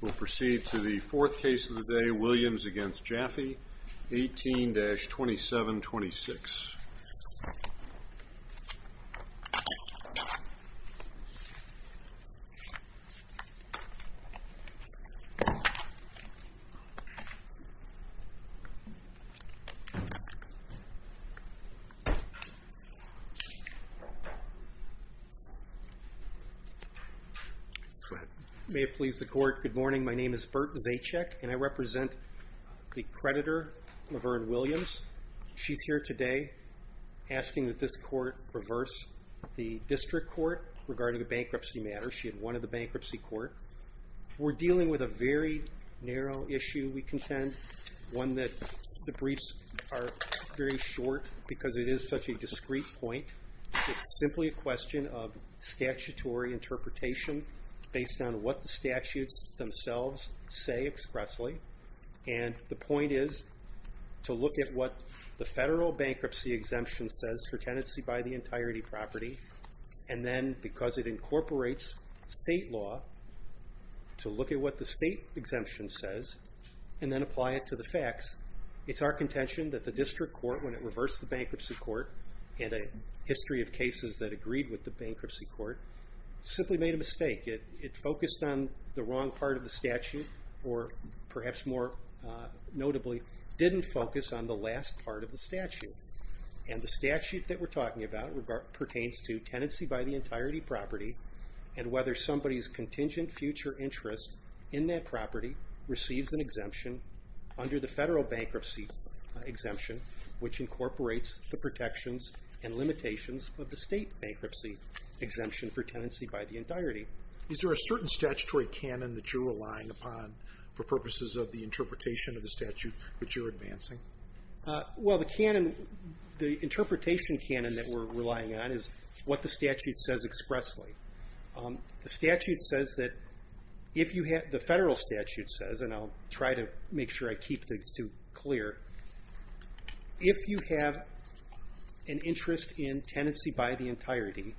We'll proceed to the fourth case of the day, Williams v. Jaffe, 18-2726. May it please the Court, good morning, my name is Bert Zajcik and I represent the creditor Laverne Williams. She's here today asking that this Court reverse the district court regarding a bankruptcy matter. She had wanted the bankruptcy court. We're dealing with a very narrow issue, we contend, one that the briefs are very short because it is such a discreet point. It's simply a question of statutory interpretation based on what the statutes themselves say expressly and the point is to look at what the federal bankruptcy exemption says for tenancy by the entirety property and then, because it incorporates state law, to look at what the state exemption says and then apply it to the facts. It's our contention that the district court, when it reversed the bankruptcy court in a history of cases that agreed with the bankruptcy court, simply made a mistake. It focused on the wrong part of the statute or, perhaps more notably, didn't focus on the last part of the statute and the statute that we're talking about pertains to tenancy by the entirety property and whether somebody's contingent future interest in that property receives an exemption under the federal bankruptcy exemption, which incorporates the protections and limitations of the state bankruptcy exemption for tenancy by the entirety. Is there a certain statutory canon that you're relying upon for purposes of the interpretation of the statute that you're advancing? Well, the canon, the interpretation canon that we're relying on is what the statute says expressly. The statute says that if you have, the federal statute says, and I'll try to make sure I get this right, if you have an interest in tenancy by the entirety,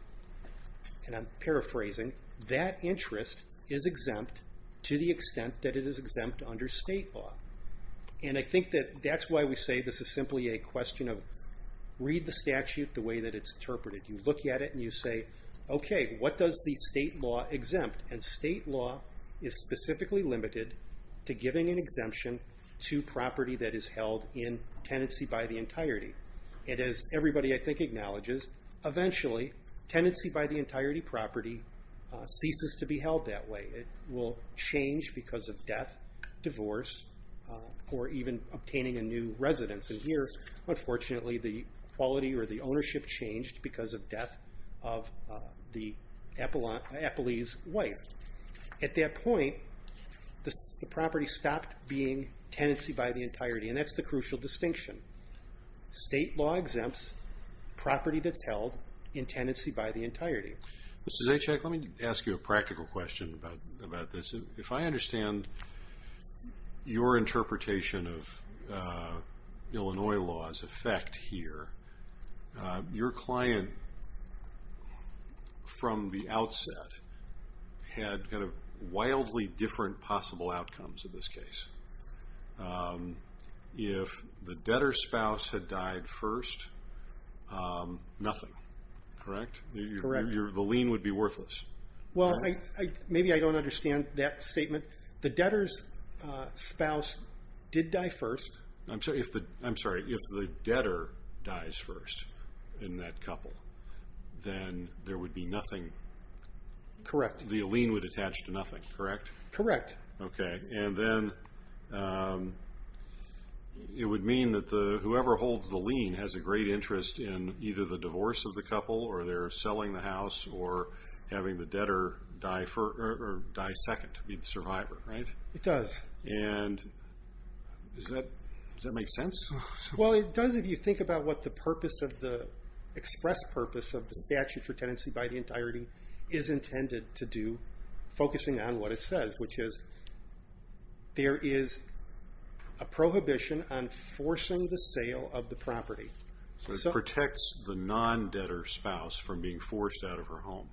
and I'm paraphrasing, that interest is exempt to the extent that it is exempt under state law. I think that that's why we say this is simply a question of read the statute the way that it's interpreted. You look at it and you say, okay, what does the state law exempt? State law is specifically limited to giving an exemption to property that is held in tenancy by the entirety. And as everybody, I think, acknowledges, eventually, tenancy by the entirety property ceases to be held that way. It will change because of death, divorce, or even obtaining a new residence. And here, unfortunately, the quality or the ownership changed because of death of the Apolli's wife. At that point, the property stopped being tenancy by the entirety, and that's the crucial distinction. State law exempts property that's held in tenancy by the entirety. Mr. Zajac, let me ask you a practical question about this. If I understand your interpretation of Illinois law's effect here, your client, from the outset, had kind of wildly different possible outcomes in this case. If the debtor's spouse had died first, nothing, correct? Correct. The lien would be worthless. Well, maybe I don't understand that statement. The debtor's spouse did die first. I'm sorry. If the debtor dies first in that couple, then there would be nothing. Correct. The lien would attach to nothing, correct? Correct. Okay. And then it would mean that whoever holds the lien has a great interest in either the divorce of the couple, or they're selling the house, or having the debtor die second, be the survivor, right? It does. And does that make sense? Well, it does if you think about what the express purpose of the statute for tenancy by the entirety is intended to do, focusing on what it says, which is there is a prohibition on forcing the sale of the property. So it protects the non-debtor spouse from being forced out of her home.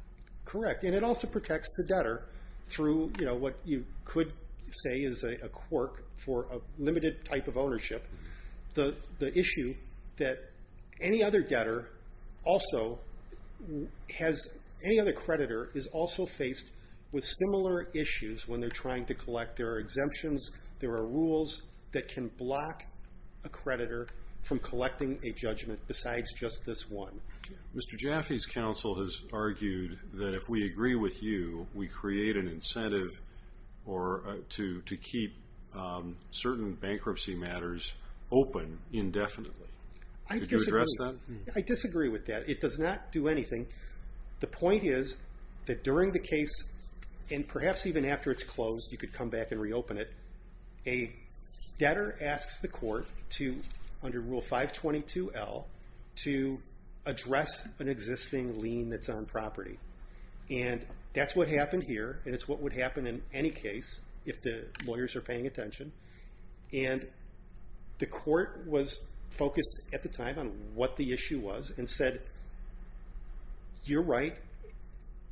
Correct. And it also protects the debtor through what you could say is a quirk for a limited type of ownership, the issue that any other creditor is also faced with similar issues when they're trying to collect. There are exemptions. There are rules that can block a creditor from collecting a judgment besides just this one. Mr. Jaffe's counsel has argued that if we agree with you, we create an incentive to keep certain bankruptcy matters open indefinitely. Would you address that? I disagree with that. It does not do anything. The point is that during the case, and perhaps even after it's closed, you could come back and reopen it, a debtor asks the court to, under Rule 522L, to address an existing lien that's on property. And that's what happened here, and it's what would happen in any case if the lawyers are paying attention. And the court was focused at the time on what the issue was and said, you're right,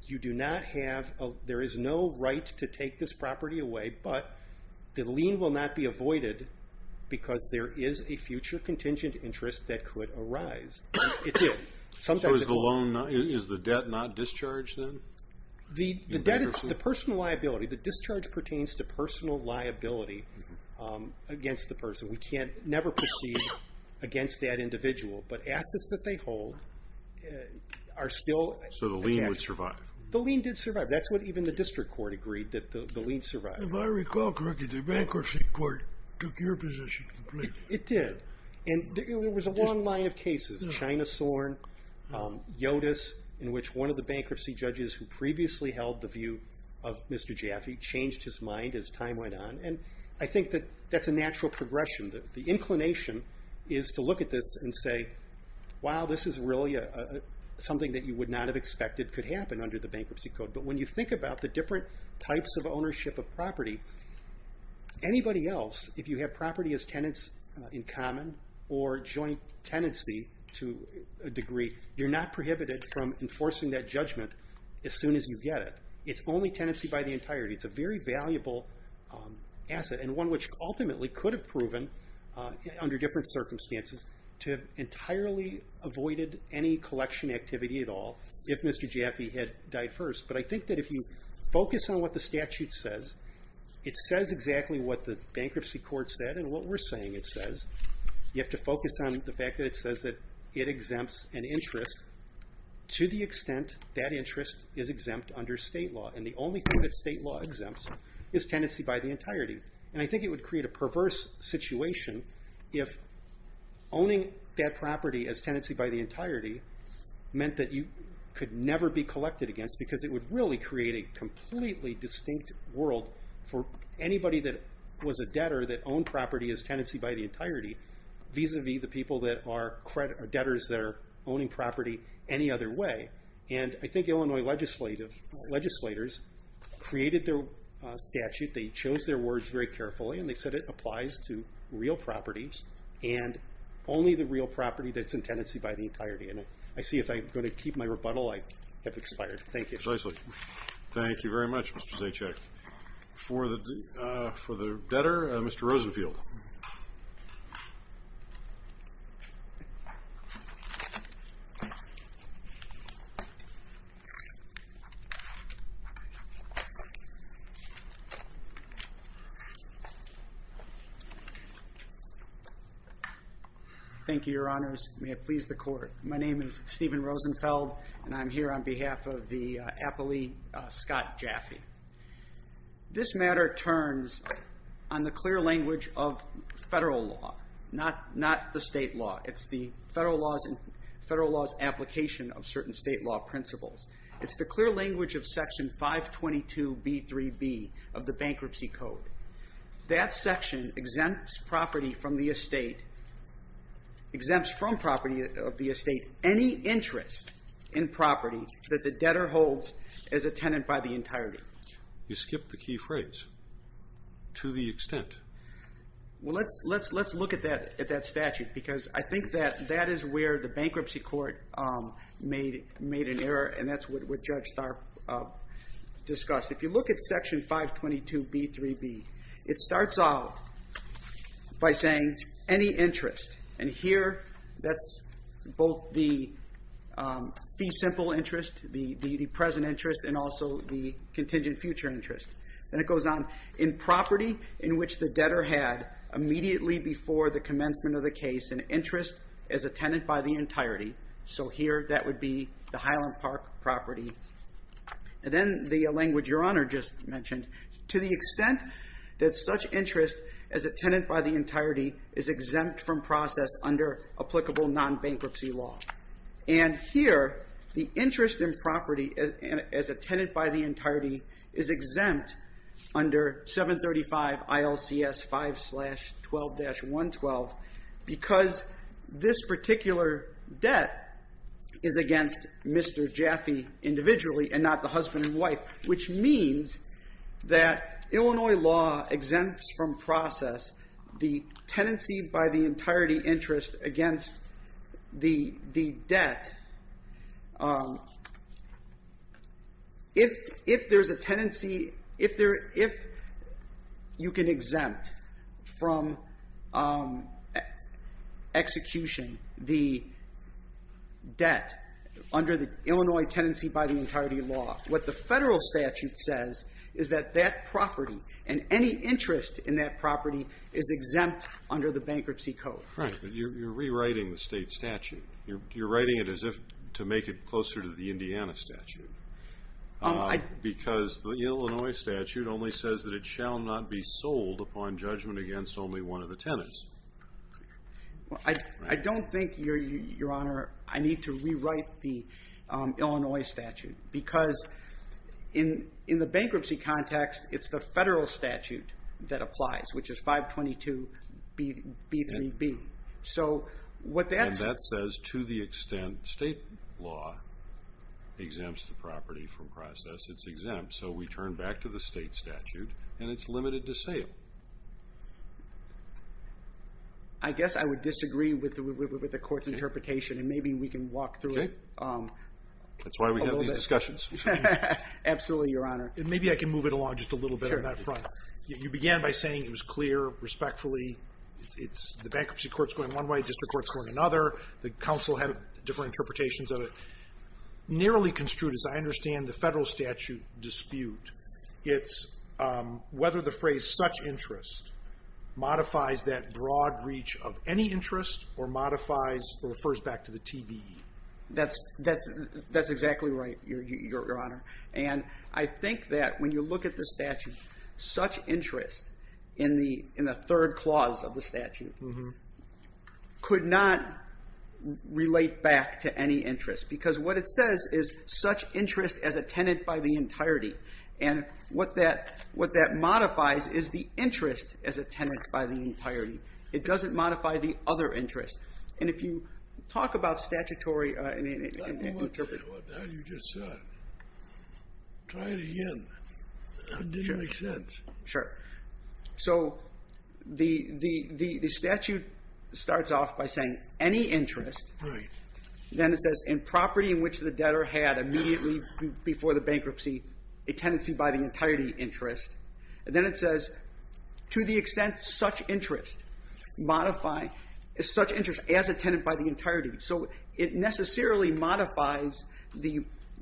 you do not have, there is no right to take this property away, but the lien will not be avoided because there is a future contingent interest that could arise. It did. So is the debt not discharged then? The debt is the personal liability. The discharge pertains to personal liability against the person. We can't never proceed against that individual. But assets that they hold are still attached. So the lien would survive? The lien did survive. That's what even the district court agreed, that the lien survived. If I recall correctly, the bankruptcy court took your position completely. It did. And it was a long line of cases. China Soren, Yotus, in which one of the bankruptcy judges who previously held the view of Mr. Jaffe changed his mind as time went on. And I think that that's a natural progression. The inclination is to look at this and say, wow, this is really something that you would not have expected could happen under the bankruptcy code. But when you think about the different types of ownership of property, anybody else, if you have property as tenants in common or joint tenancy to a degree, you're not prohibited from enforcing that judgment as soon as you get it. It's only tenancy by the entirety. It's a very valuable asset and one which ultimately could have proven, under different circumstances, to have entirely avoided any collection activity at all if Mr. Jaffe had died first. But I think that if you focus on what the statute says, it says exactly what the bankruptcy court said and what we're saying it says. You have to focus on the fact that it says that it exempts an interest to the extent that interest is exempt under state law. And the only thing that state law exempts is tenancy by the entirety. And I think it would create a perverse situation if owning that property as tenancy by the entirety meant that you could never be collected against because it would really create a completely distinct world for anybody that was a debtor that owned property as tenancy by the entirety vis-a-vis the people that are debtors that are owning property any other way. And I think Illinois legislators created their statute. They chose their words very carefully and they said it applies to real property and I see if I'm going to keep my rebuttal, I have expired. Thank you. Precisely. Thank you very much, Mr. Zajac. For the debtor, Mr. Rosenfield. Thank you, Your Honors. May it please the Court. My name is Stephen Rosenfeld and I'm here on behalf of the appellee, Scott Jaffe. This matter turns on the clear language of federal law, not the state law. It's the federal law's application of certain state law principles. It's the clear language of Section 522B3B of the Bankruptcy Code. That section exempts property from the estate, exempts from property of the estate any interest in property that the debtor holds as a tenant by the entirety. You skipped the key phrase, to the extent. Well, let's look at that statute because I think that is where the bankruptcy court made an error and that's what Judge Starr discussed. If you look at Section 522B3B, it starts out by saying any interest. And here, that's both the fee simple interest, the present interest, and also the contingent future interest. Then it goes on, in property in which the debtor had immediately before the commencement of the case an interest as a tenant by the entirety. So here, that would be the Highland Park property. And then the language Your Honor just mentioned. To the extent that such interest as a tenant by the entirety is exempt from process under applicable non-bankruptcy law. And here, the interest in property as a tenant by the entirety is exempt under 735 ILCS 5-12-112 because this particular debt is against Mr. Jaffe individually and not the husband and wife. Which means that Illinois law exempts from process the tenancy by the entirety interest against the debt. If there's a tenancy, if you can exempt from execution the debt under the Illinois tenancy by the entirety law, what the federal statute says is that that property and any interest in that property is exempt under the bankruptcy code. Right. But you're rewriting the state statute. You're writing it as if to make it closer to the Indiana statute. Because the Illinois statute only says that it shall not be sold upon judgment against only one of the tenants. I don't think, Your Honor, I need to rewrite the Illinois statute. Because in the bankruptcy context, it's the federal statute that applies, which is 522B3B. And that says to the extent state law exempts the property from process, it's exempt. So we turn back to the state statute and it's limited to sale. I guess I would disagree with the court's interpretation and maybe we can walk through it a little bit. That's why we have these discussions. Absolutely, Your Honor. Maybe I can move it along just a little bit on that front. You began by saying it was clear, respectfully, the bankruptcy court's going one way, district court's going another. The counsel had different interpretations of it. Narrowly construed, as I understand the federal statute dispute, it's whether the phrase such interest modifies that broad reach of any interest or modifies or refers back to the TBE. That's exactly right, Your Honor. And I think that when you look at the statute, such interest in the third clause of the statute could not relate back to any interest because what it says is such interest as a tenant by the entirety. And what that modifies is the interest as a tenant by the entirety. It doesn't modify the other interest. And if you talk about statutory interpretation. How do you just say that? Try it again. It didn't make sense. Sure. So the statute starts off by saying any interest. Right. Then it says in property in which the debtor had immediately before the bankruptcy a tenancy by the entirety interest. Then it says to the extent such interest modify is such interest as a tenant by the entirety. So it necessarily modifies the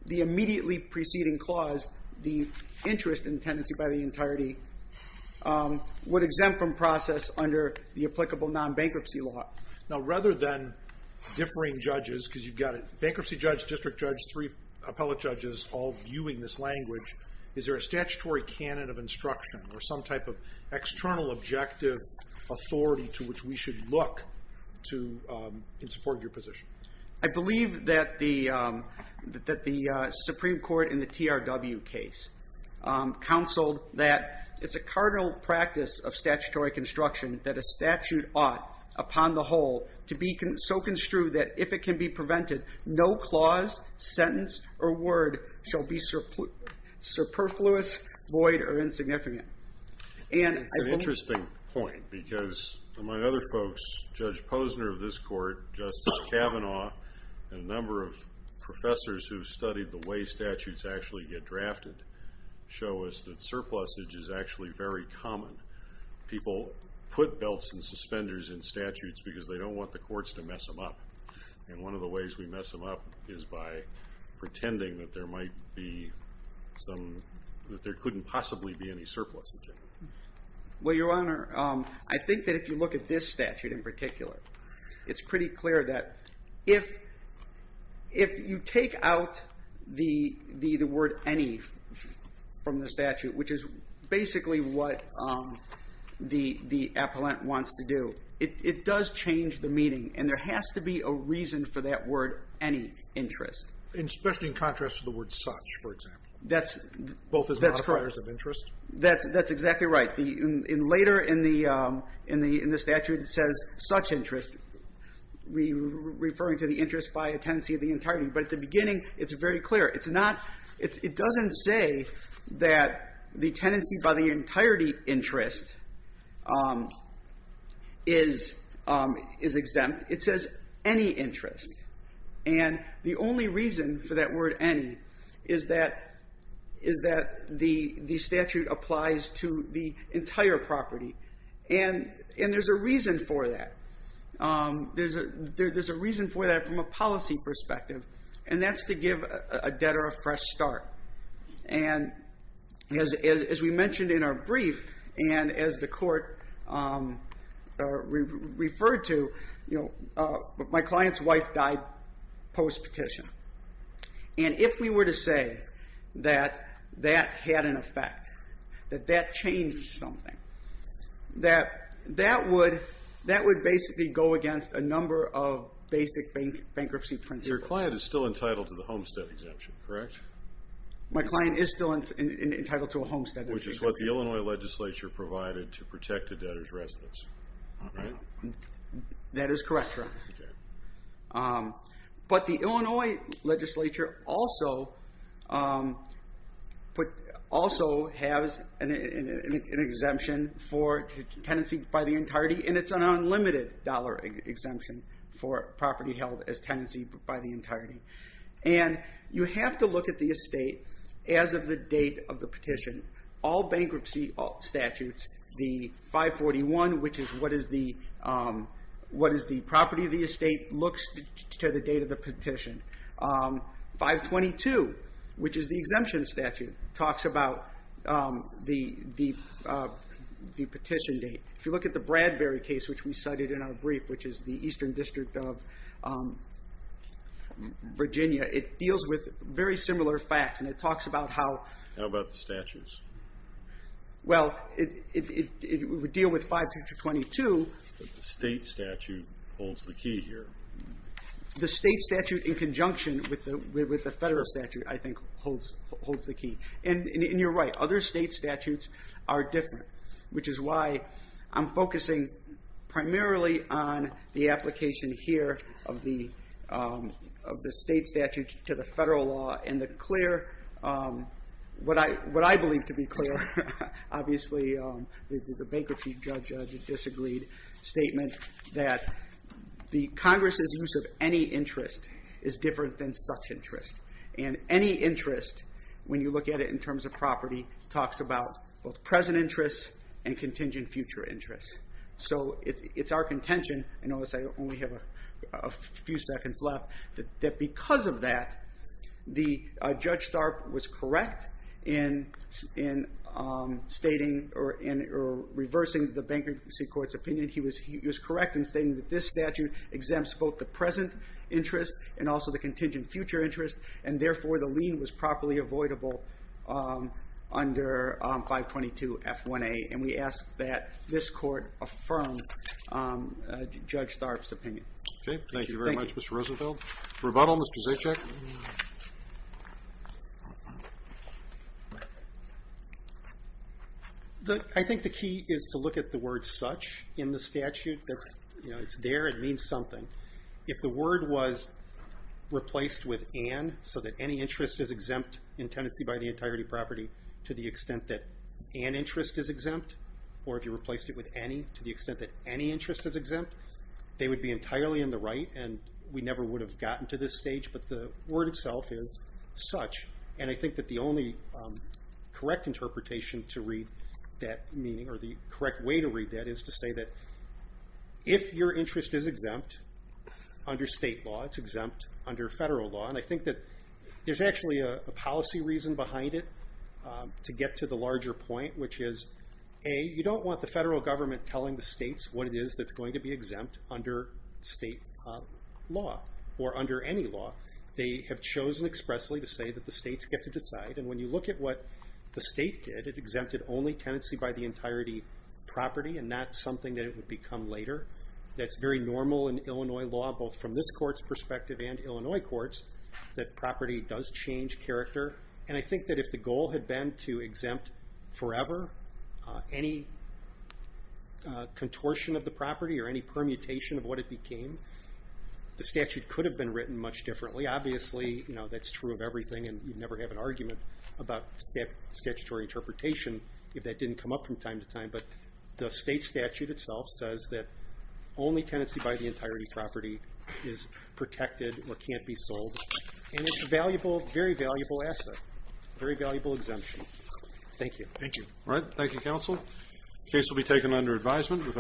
immediately preceding clause, the interest in the tenancy by the entirety would exempt from process under the applicable non-bankruptcy law. Now rather than differing judges because you've got a bankruptcy judge, district judge, three appellate judges all viewing this language, is there a statutory canon of instruction or some type of external objective authority to which we should look in support of your position? I believe that the Supreme Court in the TRW case counseled that it's a cardinal practice of statutory construction that a statute ought, upon the whole, to be so construed that if it can be prevented, no clause, sentence, or word shall be superfluous, void, or insignificant. It's an interesting point because among other folks, Judge Posner of this court, Justice Kavanaugh, and a number of professors who've studied the way statutes actually get drafted show us that surplusage is actually very common. People put belts and suspenders in statutes because they don't want the courts to mess them up. And one of the ways we mess them up is by pretending that there couldn't possibly be any surplus. Well, Your Honor, I think that if you look at this statute in particular, it's pretty clear that if you take out the word any from the statute, which is basically what the appellant wants to do, it does change the meaning. And there has to be a reason for that word any interest. Especially in contrast to the word such, for example, both as modifiers of interest? That's exactly right. Later in the statute, it says such interest, referring to the interest by a tenancy of the entirety. But at the beginning, it's very clear. It doesn't say that the tenancy by the entirety interest is exempt. It says any interest. And the only reason for that word any is that the statute applies to the entire property. And there's a reason for that. There's a reason for that from a policy perspective, and that's to give a debtor a fresh start. And as we mentioned in our brief and as the court referred to, my client's wife died post-petition. And if we were to say that that had an effect, that that changed something, that that would basically go against a number of basic bankruptcy principles. Your client is still entitled to the homestead exemption, correct? My client is still entitled to a homestead exemption. Which is what the Illinois legislature provided to protect a debtor's residence, right? That is correct, sir. But the Illinois legislature also has an exemption for tenancy by the entirety, and it's an unlimited dollar exemption for property held as tenancy by the entirety. And you have to look at the estate as of the date of the petition. All bankruptcy statutes, the 541, which is what is the property of the estate, looks to the date of the petition. 522, which is the exemption statute, talks about the petition date. If you look at the Bradbury case, which we cited in our brief, which is the Eastern District of Virginia, it deals with very similar facts. How about the statutes? Well, it would deal with 522. But the state statute holds the key here. The state statute in conjunction with the federal statute, I think, holds the key. And you're right. Other state statutes are different, which is why I'm focusing primarily on the application here of the state statute to the federal law and the clear, what I believe to be clear, obviously the bankruptcy judge disagreed, statement that the Congress's use of any interest is different than such interest. And any interest, when you look at it in terms of property, talks about both present interest and contingent future interest. So it's our contention, I notice I only have a few seconds left, that because of that, Judge Starpe was correct in stating or reversing the bankruptcy court's opinion. He was correct in stating that this statute exempts both the present interest and also the contingent future interest, and therefore the lien was properly avoidable under 522 F1A. Okay, thank you very much, Mr. Rosenfeld. Rebuttal, Mr. Zajac? I think the key is to look at the word such in the statute. It's there, it means something. If the word was replaced with an, so that any interest is exempt in tenancy by the entirety property to the extent that an interest is exempt, they would be entirely in the right, and we never would have gotten to this stage, but the word itself is such. And I think that the only correct interpretation to read that meaning, or the correct way to read that, is to say that if your interest is exempt under state law, it's exempt under federal law. And I think that there's actually a policy reason behind it to get to the larger point, which is, A, you don't want the federal government telling the states what it is that's going to be exempt under state law, or under any law. They have chosen expressly to say that the states get to decide, and when you look at what the state did, it exempted only tenancy by the entirety property, and not something that it would become later. That's very normal in Illinois law, both from this court's perspective and Illinois courts, that property does change character. And I think that if the goal had been to exempt forever any contortion of the property, or any permutation of what it became, the statute could have been written much differently. Obviously, that's true of everything, and you'd never have an argument about statutory interpretation if that didn't come up from time to time. But the state statute itself says that only tenancy by the entirety property is protected or can't be sold. And it's a very valuable asset, a very valuable exemption. Thank you. Thank you. All right. Thank you, counsel. The case will be taken under advisement.